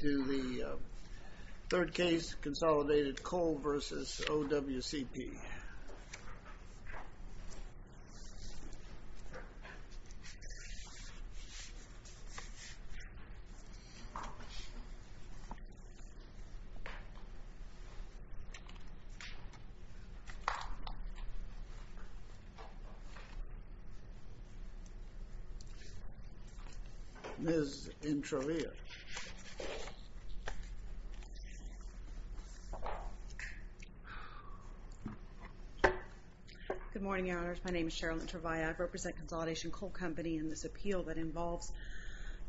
To the third case, Consolidated Coal v. OWCP. Ms. Introvia. Good morning, your honors. My name is Cheryl Introvia. I represent Consolidation Coal Company in this appeal that involves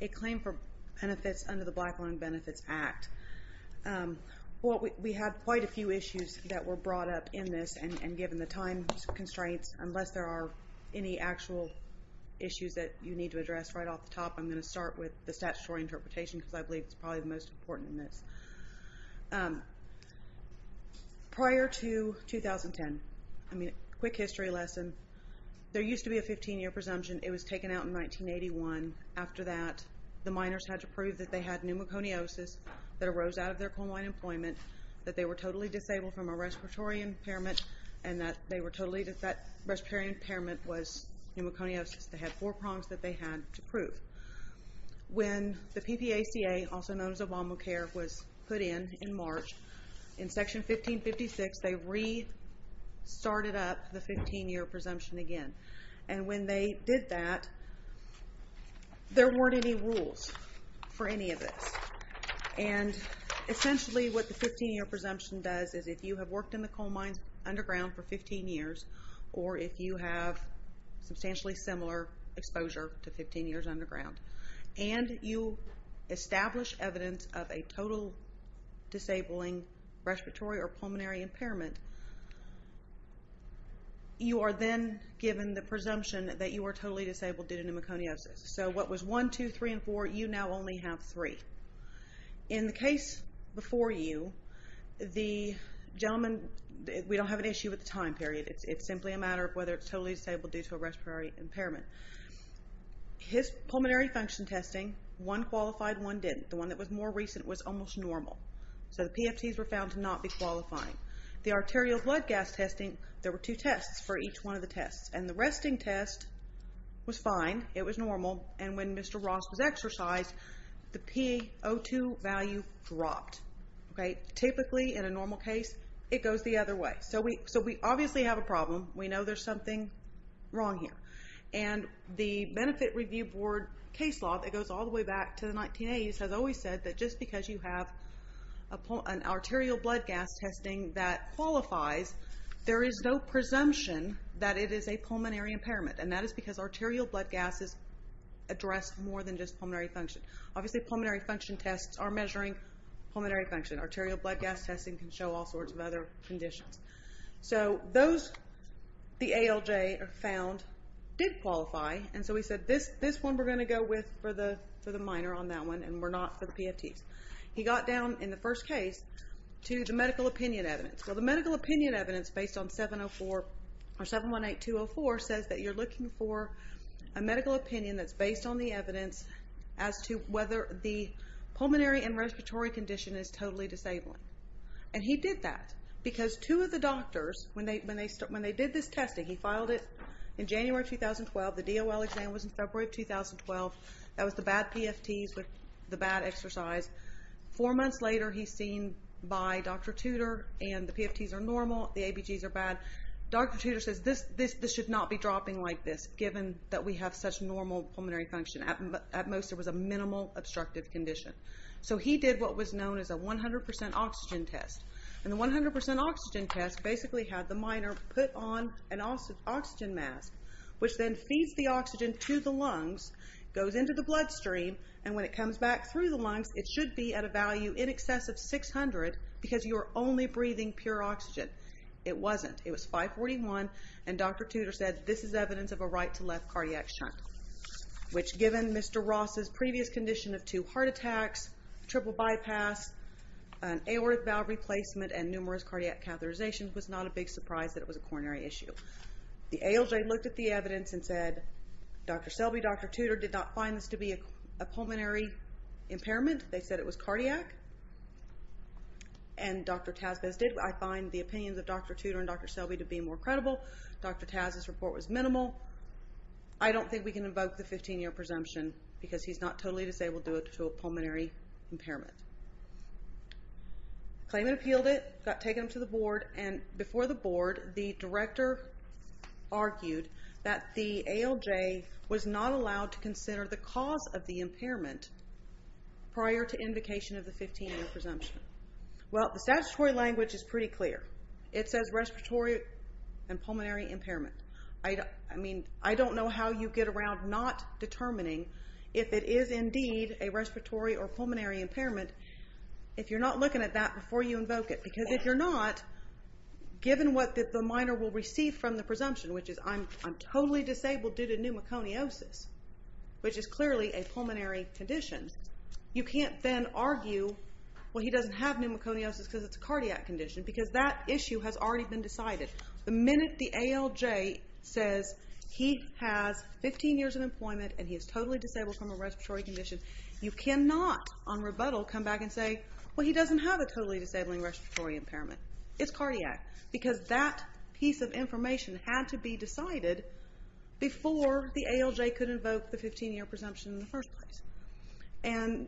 a claim for benefits under the Black Line Benefits Act. Well, we had quite a few issues that were brought up in this, and given the time constraints, unless there are any actual issues that you need to address right off the top, I'm going to start with the statutory interpretation, because I believe it's probably the most important in this. Prior to 2010, a quick history lesson, there used to be a 15-year presumption. It was taken out in 1981. After that, the miners had to prove that they had pneumoconiosis that arose out of their coal mine employment, that they were totally disabled from a respiratory impairment, and that that respiratory impairment was pneumoconiosis. They had four prongs that they had to prove. When the PPACA, also known as Obamacare, was put in in March, in Section 1556, they restarted up the 15-year presumption again. And when they did that, there weren't any rules for any of this. And essentially, what the 15-year presumption does is if you have worked in the coal mines underground for 15 years, or if you have substantially similar exposure to 15 years underground, and you establish evidence of a total disabling respiratory or pulmonary impairment, you are then given the presumption that you are totally disabled due to pneumoconiosis. So what was 1, 2, 3, and 4, you now only have 3. In the case before you, the gentleman, we don't have an issue with the time period. It's simply a matter of whether it's totally disabled due to a respiratory impairment. His pulmonary function testing, one qualified, one didn't. The one that was more recent was almost normal. So the PFTs were found to not be qualifying. The arterial blood gas testing, there were two tests for each one of the tests. And the resting test was fine. It was normal. And when Mr. Ross was exercised, the P02 value dropped. Typically, in a normal case, it goes the other way. So we obviously have a problem. We know there's something wrong here. And the Benefit Review Board case law that goes all the way back to the 1980s has always said that just because you have an arterial blood gas testing that qualifies, there is no presumption that it is a pulmonary impairment. And that is because arterial blood gas is addressed more than just pulmonary function. Obviously, pulmonary function tests are measuring pulmonary function. Arterial blood gas testing can show all sorts of other conditions. So those, the ALJ found, did qualify. And so we said, this one we're going to go with for the minor on that one, and we're not for the PFTs. He got down, in the first case, to the medical opinion evidence. Well, the medical opinion evidence based on 718204 says that you're looking for a medical opinion that's based on the evidence as to whether the pulmonary and respiratory condition is totally disabling. And he did that because two of the doctors, when they did this testing, he filed it in January 2012. The DOL exam was in February 2012. That was the bad PFTs with the bad exercise. Four months later, he's seen by Dr. Tudor, and the PFTs are normal. The ABGs are bad. Dr. Tudor says, this should not be dropping like this, given that we have such normal pulmonary function. At most, it was a minimal obstructive condition. So he did what was known as a 100% oxygen test. And the 100% oxygen test basically had the minor put on an oxygen mask, which then feeds the oxygen to the lungs, goes into the bloodstream, and when it comes back through the lungs, it should be at a value in excess of 600, because you're only breathing pure oxygen. It wasn't. It was 541, and Dr. Tudor said, this is evidence of a right to left cardiac shunt. Which, given Mr. Ross's previous condition of two heart attacks, triple bypass, an aortic valve replacement, and numerous cardiac catheterizations, was not a big surprise that it was a coronary issue. The ALJ looked at the evidence and said, Dr. Selby, Dr. Tudor did not find this to be a pulmonary impairment. They said it was cardiac. And Dr. Tazvez did. I find the opinions of Dr. Tudor and Dr. Selby to be more credible. Dr. Taz's report was minimal. I don't think we can invoke the 15 year presumption to say we'll do it to a pulmonary impairment. Claimant appealed it, got taken to the board, and before the board, the director argued that the ALJ was not allowed to consider the cause of the impairment prior to invocation of the 15 year presumption. Well, the statutory language is pretty clear. It says respiratory and pulmonary impairment. I mean, I don't know how you get around not determining if it is indeed a respiratory or pulmonary impairment if you're not looking at that before you invoke it. Because if you're not, given what the minor will receive from the presumption, which is I'm totally disabled due to pneumoconiosis, which is clearly a pulmonary condition, you can't then argue, well, he doesn't have pneumoconiosis because it's a cardiac condition. Because that issue has already been decided. The minute the ALJ says he has 15 years of employment and he is totally disabled from a respiratory condition, you cannot on rebuttal come back and say, well, he doesn't have a totally disabling respiratory impairment. It's cardiac. Because that piece of information had to be decided before the ALJ could invoke the 15 year presumption in the first place. And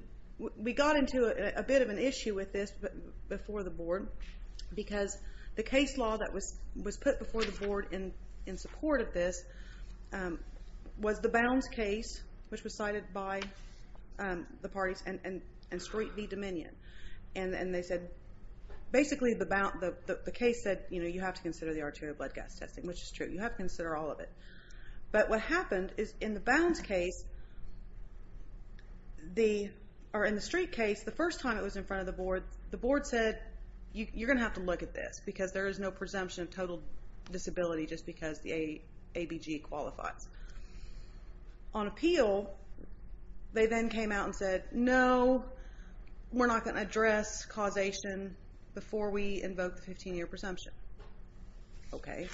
we got into a bit of an issue with this before the board because the case law that was put before the board in support of this was the Bounds case, which was cited by the parties, and Street v. Dominion. And they said, basically the case said, you know, you have to consider the arterial blood gas testing, which is true. You have to consider all of it. But what happened is in the Bounds case, or in the Street case, the first time it was in front of the board, the board said, you're going to have to look at this because there is no presumption of total disability just because the ABG qualifies. On appeal, they then came out and said, no, we're not going to address causation before we invoke the 15 year presumption. Okay.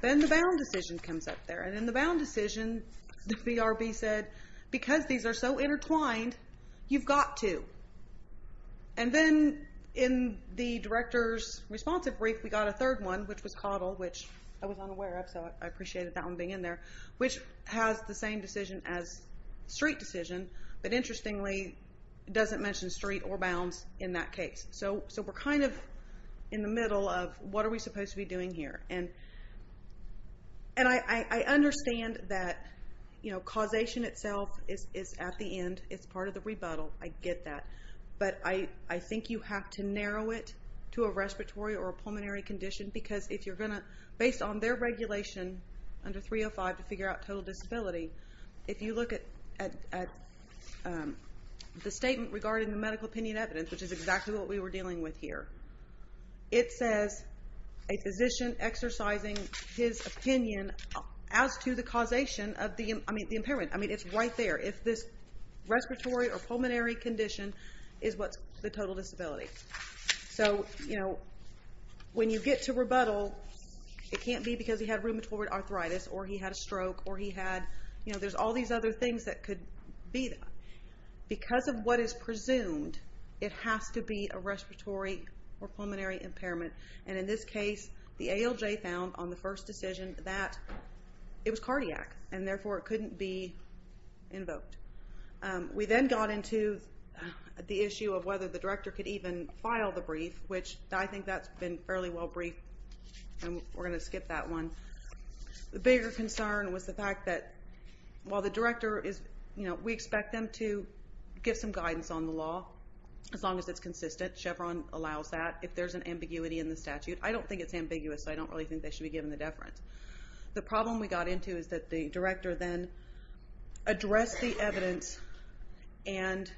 Then the Bound decision comes up there. And in the Bound decision, the VRB said, because these are so intertwined, you've got to. And then in the director's responsive brief, we got a third one, which was Caudill, which I was unaware of, so I appreciated that one being in there, which has the same decision as Street decision, but interestingly doesn't mention Street or Bounds in that case. So we're kind of in the middle of what are we supposed to be doing here? And I understand that causation itself is at the end. It's part of the rebuttal. I get that. But I think you have to narrow it to a respiratory or a pulmonary condition because if you're going to, based on their regulation under 305 to figure out total disability, if you look at the statement regarding the it says a physician exercising his opinion as to the causation of the impairment. I mean, it's right there. If this respiratory or pulmonary condition is what's the total disability. So when you get to rebuttal, it can't be because he had rheumatoid arthritis or he had a stroke or he had, there's all these other things that could be there. Because of what is presumed, it has to be a respiratory or pulmonary impairment. And in this case, the ALJ found on the first decision that it was cardiac and therefore it couldn't be invoked. We then got into the issue of whether the director could even file the brief, which I think that's been fairly well briefed and we're going to skip that one. The bigger concern was the fact that while the director is, we expect them to give some guidance on the law as long as it's consistent. Chevron allows that. If there's an ambiguity in the statute, I don't think it's ambiguous. I don't really think they should be given the deference. The problem we got into is that the director then addressed the evidence and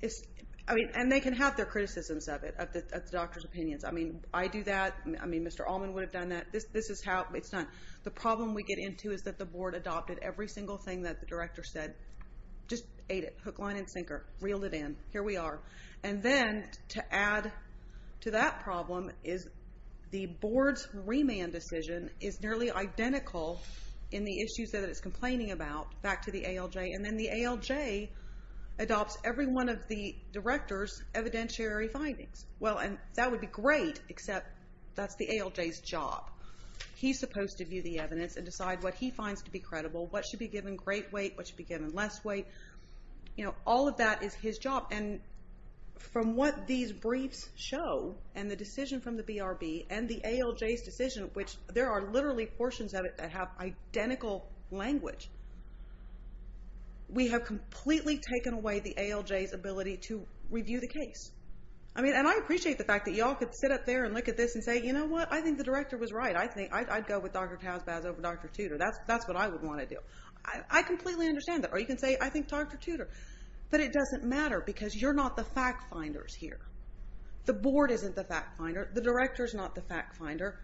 they can have their criticisms of it, of the doctor's opinions. I mean, I do that. I mean, Mr. Allman would have done that. This is how it's done. The problem we get into is that the board adopted every single thing that the director said. Just ate it. Hook, line, and sinker. Reeled it in. Here we are. And then to add to that problem is the board's remand decision is nearly identical in the issues that it's complaining about back to the ALJ. And then the ALJ adopts every one of the director's evidentiary findings. Well, and that would be great, except that's the ALJ's job. He's supposed to view the evidence and decide what he finds to be credible, what should be given great weight, what should be given less weight. All of that is his job. And from what these briefs show and the decision from the BRB and the ALJ's decision, which there are literally portions of it that have identical language, we have completely taken away the ALJ's ability to review the case. I mean, and I appreciate the fact that y'all could sit up there and look at this and say, you know what? I think the director was right. I think I'd go with Dr. Tazbaz over Dr. Tudor. That's what I would want to do. I completely understand that. Or you can say, I think Dr. Tudor. But it doesn't matter because you're not the fact finders here. The board isn't the fact finder. The director's not the fact finder.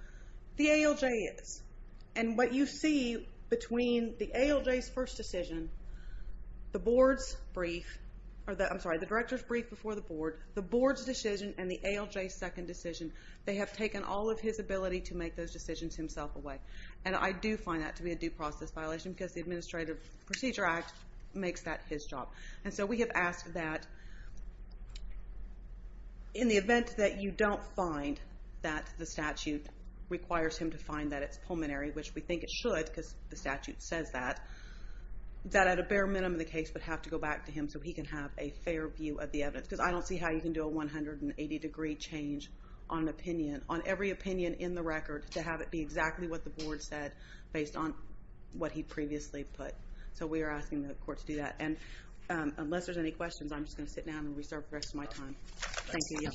The ALJ is. And what you see between the ALJ's first decision, the board's brief, or the, I'm sorry, the director's brief before the board, the board's decision, and the ALJ's second decision, they have taken all of his ability to make those decisions himself away. And I do find that to be a due process violation because the Administrative Procedure Act makes that his job. And so we have asked that in the event that you don't find that the statute requires him to find that it's pulmonary, which we think it should because the statute says that, that at a bare minimum the case would have to go back to him so he can have a fair view of the evidence. Because I don't see how you can do a 180 degree change on an opinion, on every opinion in the record, to have it be exactly what the board said based on what he previously put. So we are asking the court to do that. And unless there's any questions, I'm just going to sit down and reserve the rest of my time. Thank you.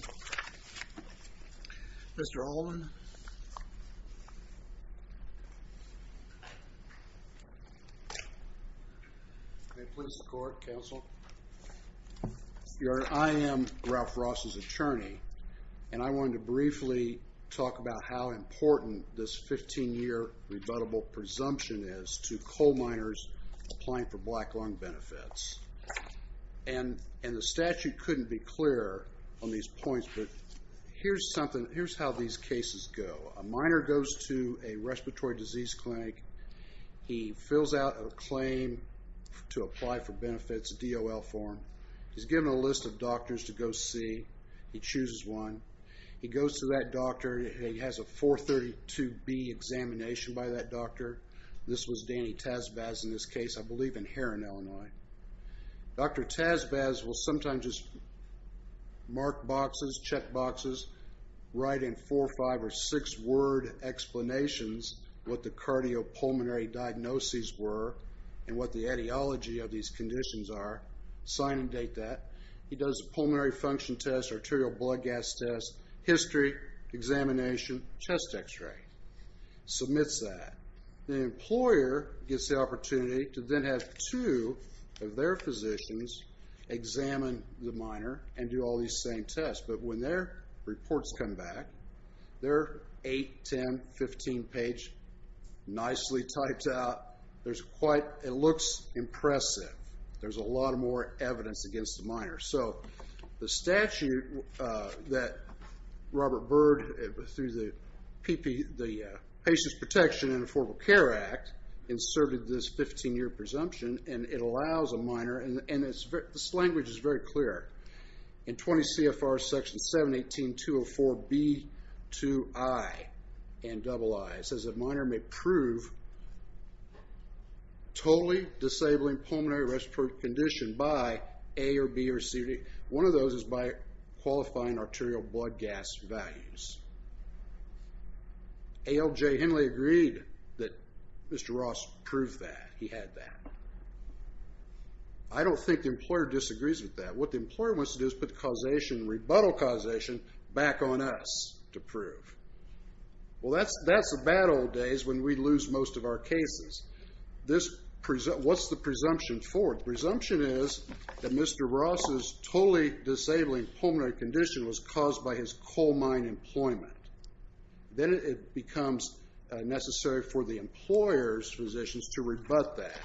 Mr. Alden. May it please the court, counsel. Your Honor, I am Ralph Ross's attorney. And I wanted to briefly talk about how important this 15 year rebuttable presumption is to coal miners applying for black lung benefits. And the statute couldn't be clearer on these points, but here's something, here's how these cases go. A miner goes to a respiratory disease clinic. He fills out a claim to apply for benefits, a DOL form. He's given a list of doctors to go see. He chooses one. He goes to that doctor. He has a 432B examination by that doctor. This was Annie Tazbaz in this case. I believe in Heron, Illinois. Dr. Tazbaz will sometimes just mark boxes, check boxes, write in four, five, or six word explanations what the cardiopulmonary diagnoses were and what the etiology of these conditions are, sign and date that. He does a pulmonary function test, arterial blood gas test, history, examination, chest x-ray. Submits that. The employer gets the opportunity to then have two of their physicians examine the miner and do all these same tests. But when their reports come back, they're 8, 10, 15 page, nicely typed out. There's quite, it looks impressive. There's a lot more evidence against the miner. So the statute that Robert Bird, through the Patient Protection and Affordable Care Act, inserted this 15 year presumption, and it allows a miner, and this language is very clear. In 20 CFR section 718.204.B.2.I. It says that a miner may prove totally disabling pulmonary respiratory condition by A or B or C. One of those is by qualifying arterial blood gas values. ALJ Henley agreed that Mr. Ross proved that. He had that. I don't think the employer disagrees with that. What the employer wants to do is put causation, rebuttal causation back on us to prove. Well, that's the bad old days when we lose most of our presumption forward. Presumption is that Mr. Ross's totally disabling pulmonary condition was caused by his coal mine employment. Then it becomes necessary for the employer's physicians to rebut that.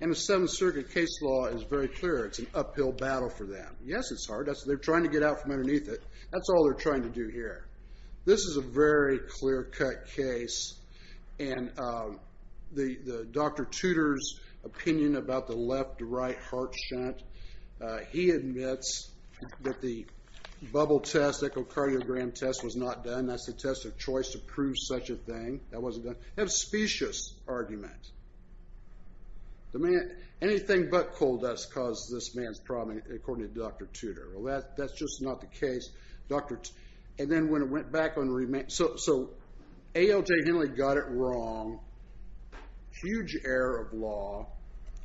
And the Seventh Circuit case law is very clear. It's an uphill battle for them. Yes, it's hard. They're trying to get out from underneath it. That's all they're trying to do here. This is a very clear cut case. And the Dr. Tudor's opinion about the left-to-right heart shunt. He admits that the bubble test, echocardiogram test, was not done. That's the test of choice to prove such a thing. That wasn't done. That's a specious argument. Anything but coal dust causes this man's problem, according to Dr. Tudor. Well, that's just not the case. And then when it went back on remand. So ALJ Henley got it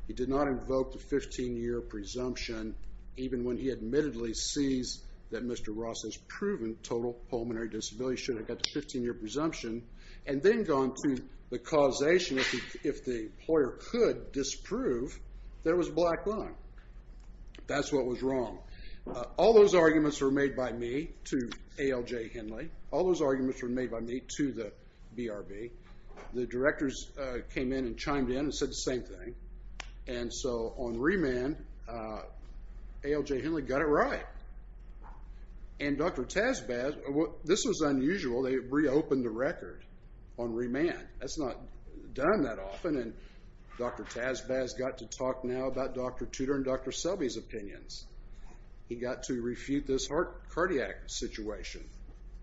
He did not invoke the 15-year presumption, even when he admittedly sees that Mr. Ross's proven total pulmonary disability should have got the 15-year presumption. And then gone to the causation. If the employer could disprove, there was black line. That's what was wrong. All those arguments were made by me to ALJ Henley. All those arguments were made by me to the BRB. The directors came in and chimed in and said the same thing. And so on remand, ALJ Henley got it right. And Dr. Tazbaz, this was unusual. They reopened the record on remand. That's not done that often. And Dr. Tazbaz got to talk now about Dr. Tudor and Dr. Selby's opinions. He got to refute this heart cardiac situation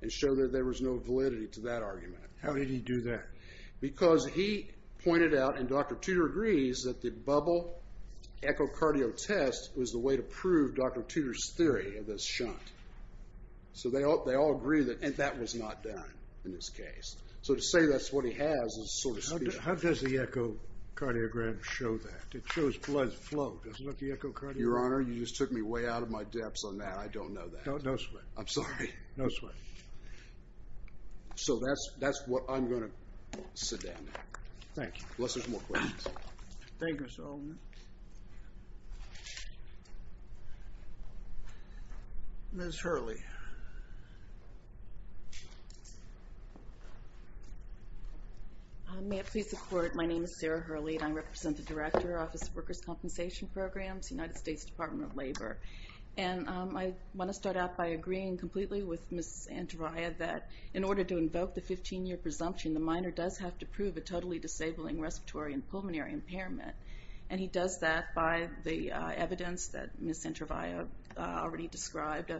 and show that there was no validity to that argument. How did he do that? Because he pointed out, and Dr. Tudor agrees, that the bubble echocardio test was the way to prove Dr. Tudor's theory of this shunt. So they all agree that that was not done in this case. So to say that's what he has is sort of stupid. How does the echocardiogram show that? It shows blood flow. Does it look echocardiogram? Your Honor, you just took me way out of my depth on that. I don't know that. No sweat. I'm sorry. No sweat. So that's what I'm going to sit down. Thank you. Unless there's more questions. Thank you, Mr. Alderman. Ms. Hurley. May it please the Court, my name is Sarah Hurley and I represent the Director, Office of Workers' Compensation Programs, United States Department of Labor. And I want to start out by agreeing completely with Ms. Antrovia that in order to invoke the 15-year presumption, the minor does have to prove a totally disabling respiratory and pulmonary impairment. And he does that by the evidence that Ms. Antrovia already described,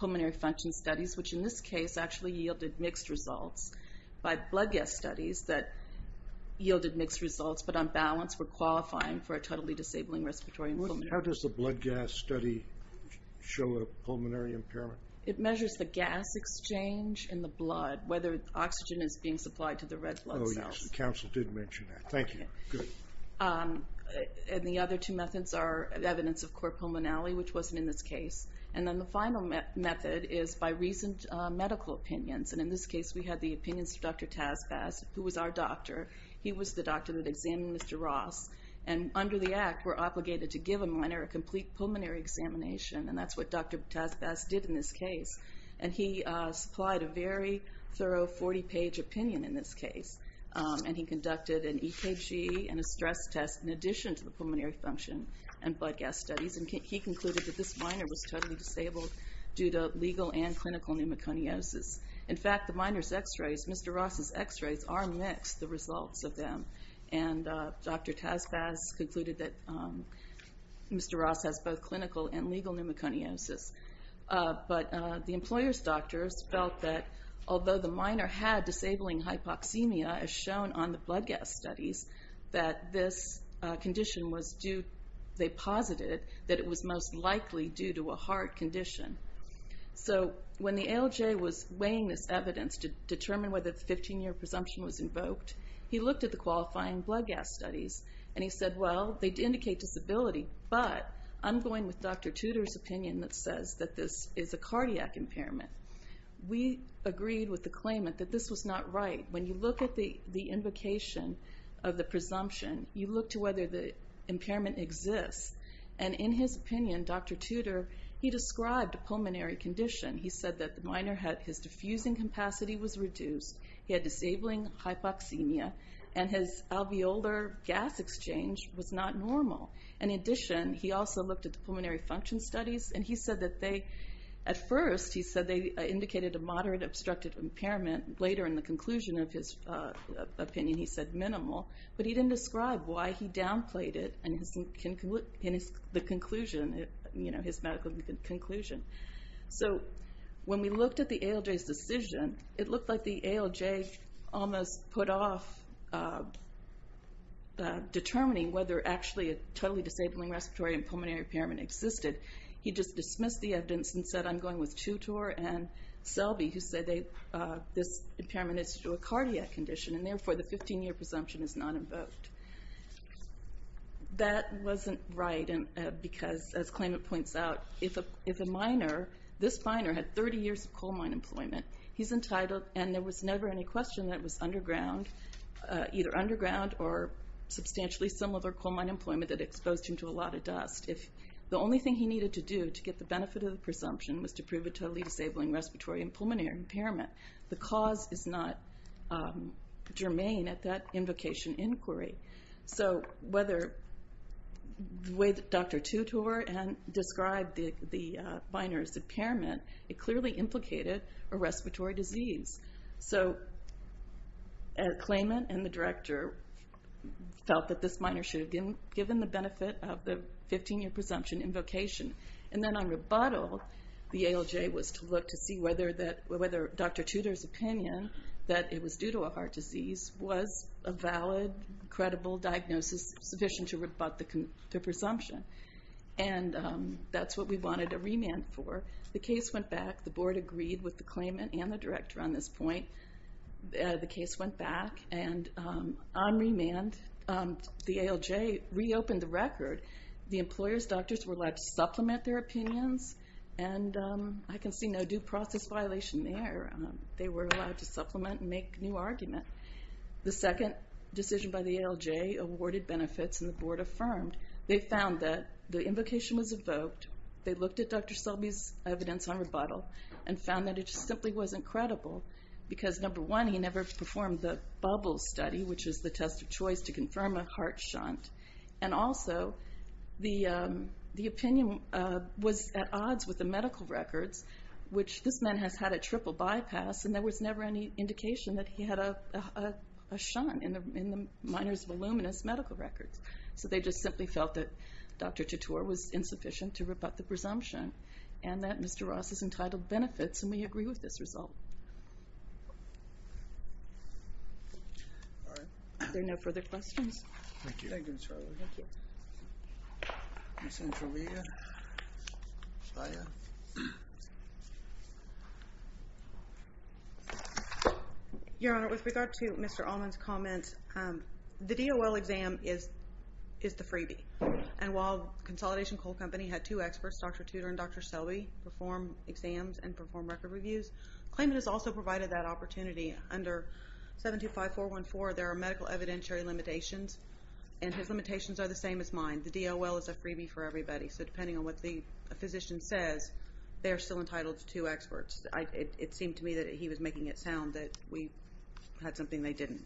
pulmonary function studies, which in this case actually yielded mixed results, by blood gas studies that yielded mixed results, but on balance were qualifying for a totally disabling respiratory and pulmonary impairment. How does the blood gas study show a pulmonary impairment? It measures the gas exchange in the blood, whether oxygen is being supplied to the red blood cells. Oh yes, the counsel did mention that. Thank you. Good. And the other two methods are evidence of core pulmonality, which wasn't in this case. And then the final method is by recent medical opinions. And in this case we had the opinions of Dr. Taspas, who was our doctor. He was the doctor that examined Mr. Ross. And under the Act, we're obligated to give a minor a complete pulmonary examination. And that's what Dr. Taspas did in this case. And he supplied a very thorough 40-page opinion in this case. And he conducted an EKG and a stress test in addition to the pulmonary function and blood gas studies. And he concluded that this minor was totally disabled due to legal and clinical pneumoconiosis. In fact, the minor's x-rays, Mr. Ross's x-rays, are mixed, the results of them. And Dr. Taspas concluded that Mr. Ross has both clinical and legal pneumoconiosis. But the employer's doctors felt that although the minor had disabling hypoxemia, as shown on the blood gas studies, that this condition was due, they posited, that it was most likely due to a heart condition. So when the ALJ was weighing this evidence to determine whether the 15-year presumption was invoked, he looked at the qualifying blood gas studies. And he said, well, they indicate disability, but I'm going with Dr. Tudor's opinion that says that this is a cardiac impairment. We agreed with the claimant that this was not right. When you look at the invocation of the presumption, you look to whether the impairment exists. And in his opinion, Dr. Tudor, he described a pulmonary condition. He said that the minor had his diffusing capacity was reduced, he had disabling hypoxemia, and his alveolar gas exchange was not normal. In addition, he also looked at the pulmonary function studies, and he said that they, at first, he said they indicated a moderate obstructive impairment. Later, in the conclusion of his opinion, he said minimal. But he didn't describe why he downplayed it in his medical conclusion. So when we looked at the ALJ's decision, it looked like the ALJ almost put off determining whether actually a totally disabling respiratory and pulmonary impairment existed. He just dismissed the evidence and said, I'm going with Tudor and Selby, who said this impairment is due to a cardiac condition, and therefore, the 15-year presumption is not invoked. That wasn't right because, as claimant points out, if a minor, this minor, had 30 years of coal mine employment, he's entitled, and there was never any question that it was underground, either underground or substantially similar coal mine employment that exposed him to a lot of dust. If the only thing he needed to do to get the benefit of the presumption was to prove a totally disabling respiratory and pulmonary impairment, the cause is not germane at that invocation inquiry. So whether, with Dr. Tudor and described the minor's impairment, it clearly implicated a respiratory disease. So a claimant and the director felt that this minor should have been given the benefit of the 15-year presumption invocation. And then on rebuttal, the ALJ was to look to see whether Dr. Tudor's opinion that it was due to a heart disease was a valid, credible diagnosis sufficient to rebut the presumption. And that's what we wanted a remand for. The case went back. The board agreed with the claimant and the director on this point. The case went back, and on remand, the ALJ reopened the record. The employer's doctors were allowed to supplement their opinions, and I can see no due process violation there. They were allowed to supplement and make new argument. The second decision by the ALJ awarded benefits, and the board affirmed. They found that the invocation was evoked. They looked at Dr. Selby's evidence on rebuttal and found that it just simply wasn't credible because, number one, he never performed the bubble study, which is the test of choice to confirm a heart shunt. And also, the opinion was at odds with the medical records, which this man has had a triple bypass, and there was never any indication that he had a shunt in the minor's voluminous medical records. So they just simply felt that Dr. Titor was insufficient to rebut the presumption, and that Mr. Ross is entitled benefits, and we agree with this result. All right. Are there no further questions? Thank you. Thank you, Ms. Harlow. Thank you. Ms. Entralia? Shaya? Your Honor, with regard to Mr. Allman's comment, the DOL exam is the freebie, and while Consolidation Coal Company had two experts, Dr. Titor and Dr. Selby, perform exams and perform record reviews, the claimant has also provided that opportunity. Under 725414, there are medical evidentiary limitations, and his limitations are the same as mine. The DOL is a freebie for everybody, so depending on what the physician says, they're still entitled to two experts. It seemed to me that he was making it sound that we had something they didn't.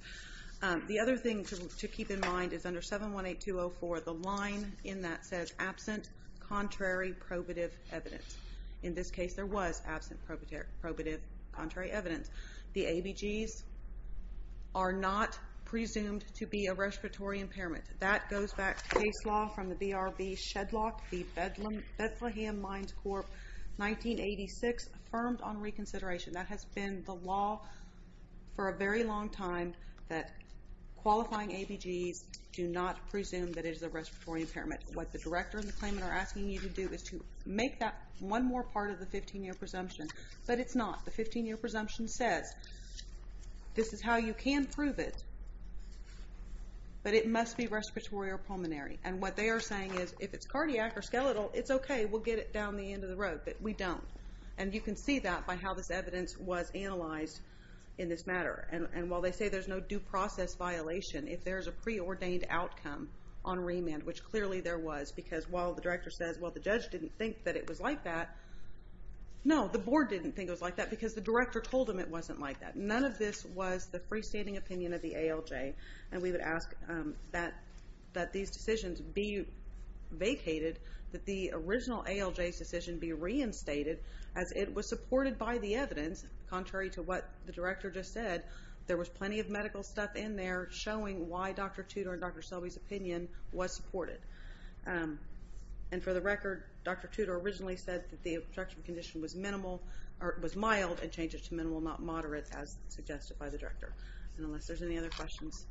The other thing to keep in mind is under 718204, the line in that says, absent contrary probative evidence. In this case, there was absent probative contrary evidence. The ABGs are not presumed to be a respiratory impairment. That goes back to case law from the BRB shedlock, the Bethlehem Mines Corp., 1986, affirmed on reconsideration. That has been the law for a very long time, that qualifying ABGs do not presume that it is a respiratory impairment. What the director and the claimant are asking you to do is to make that one more part of the 15-year presumption, but it's not. The 15-year presumption says, this is how you can prove it, but it must be respiratory or pulmonary. What they are saying is, if it's cardiac or skeletal, it's okay, we'll get it down the end of the road, but we don't. You can see that by how this evidence was analyzed in this matter. While they say there's no due process violation, if there's a preordained outcome on remand, which clearly there was, because while the director says, well, the judge didn't think that it was like that, no, the board didn't think it was like that, because the director told them it wasn't like that. None of this was the freestanding opinion of the ALJ, and we would ask that these decisions be vacated, that the original ALJ's decision be reinstated, as it was supported by the evidence, contrary to what the director just said. There was plenty of medical stuff in there showing why Dr. Tudor and Dr. Selby's opinion was supported. And for the record, Dr. Tudor originally said that the obstruction condition was minimal, or it was mild, and changed it to minimal, not moderate, as suggested by the director. And unless there's any other questions.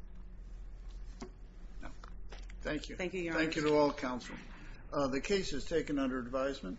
Thank you. Thank you, Your Honor. Thank you to all counsel. The case is taken under advisement.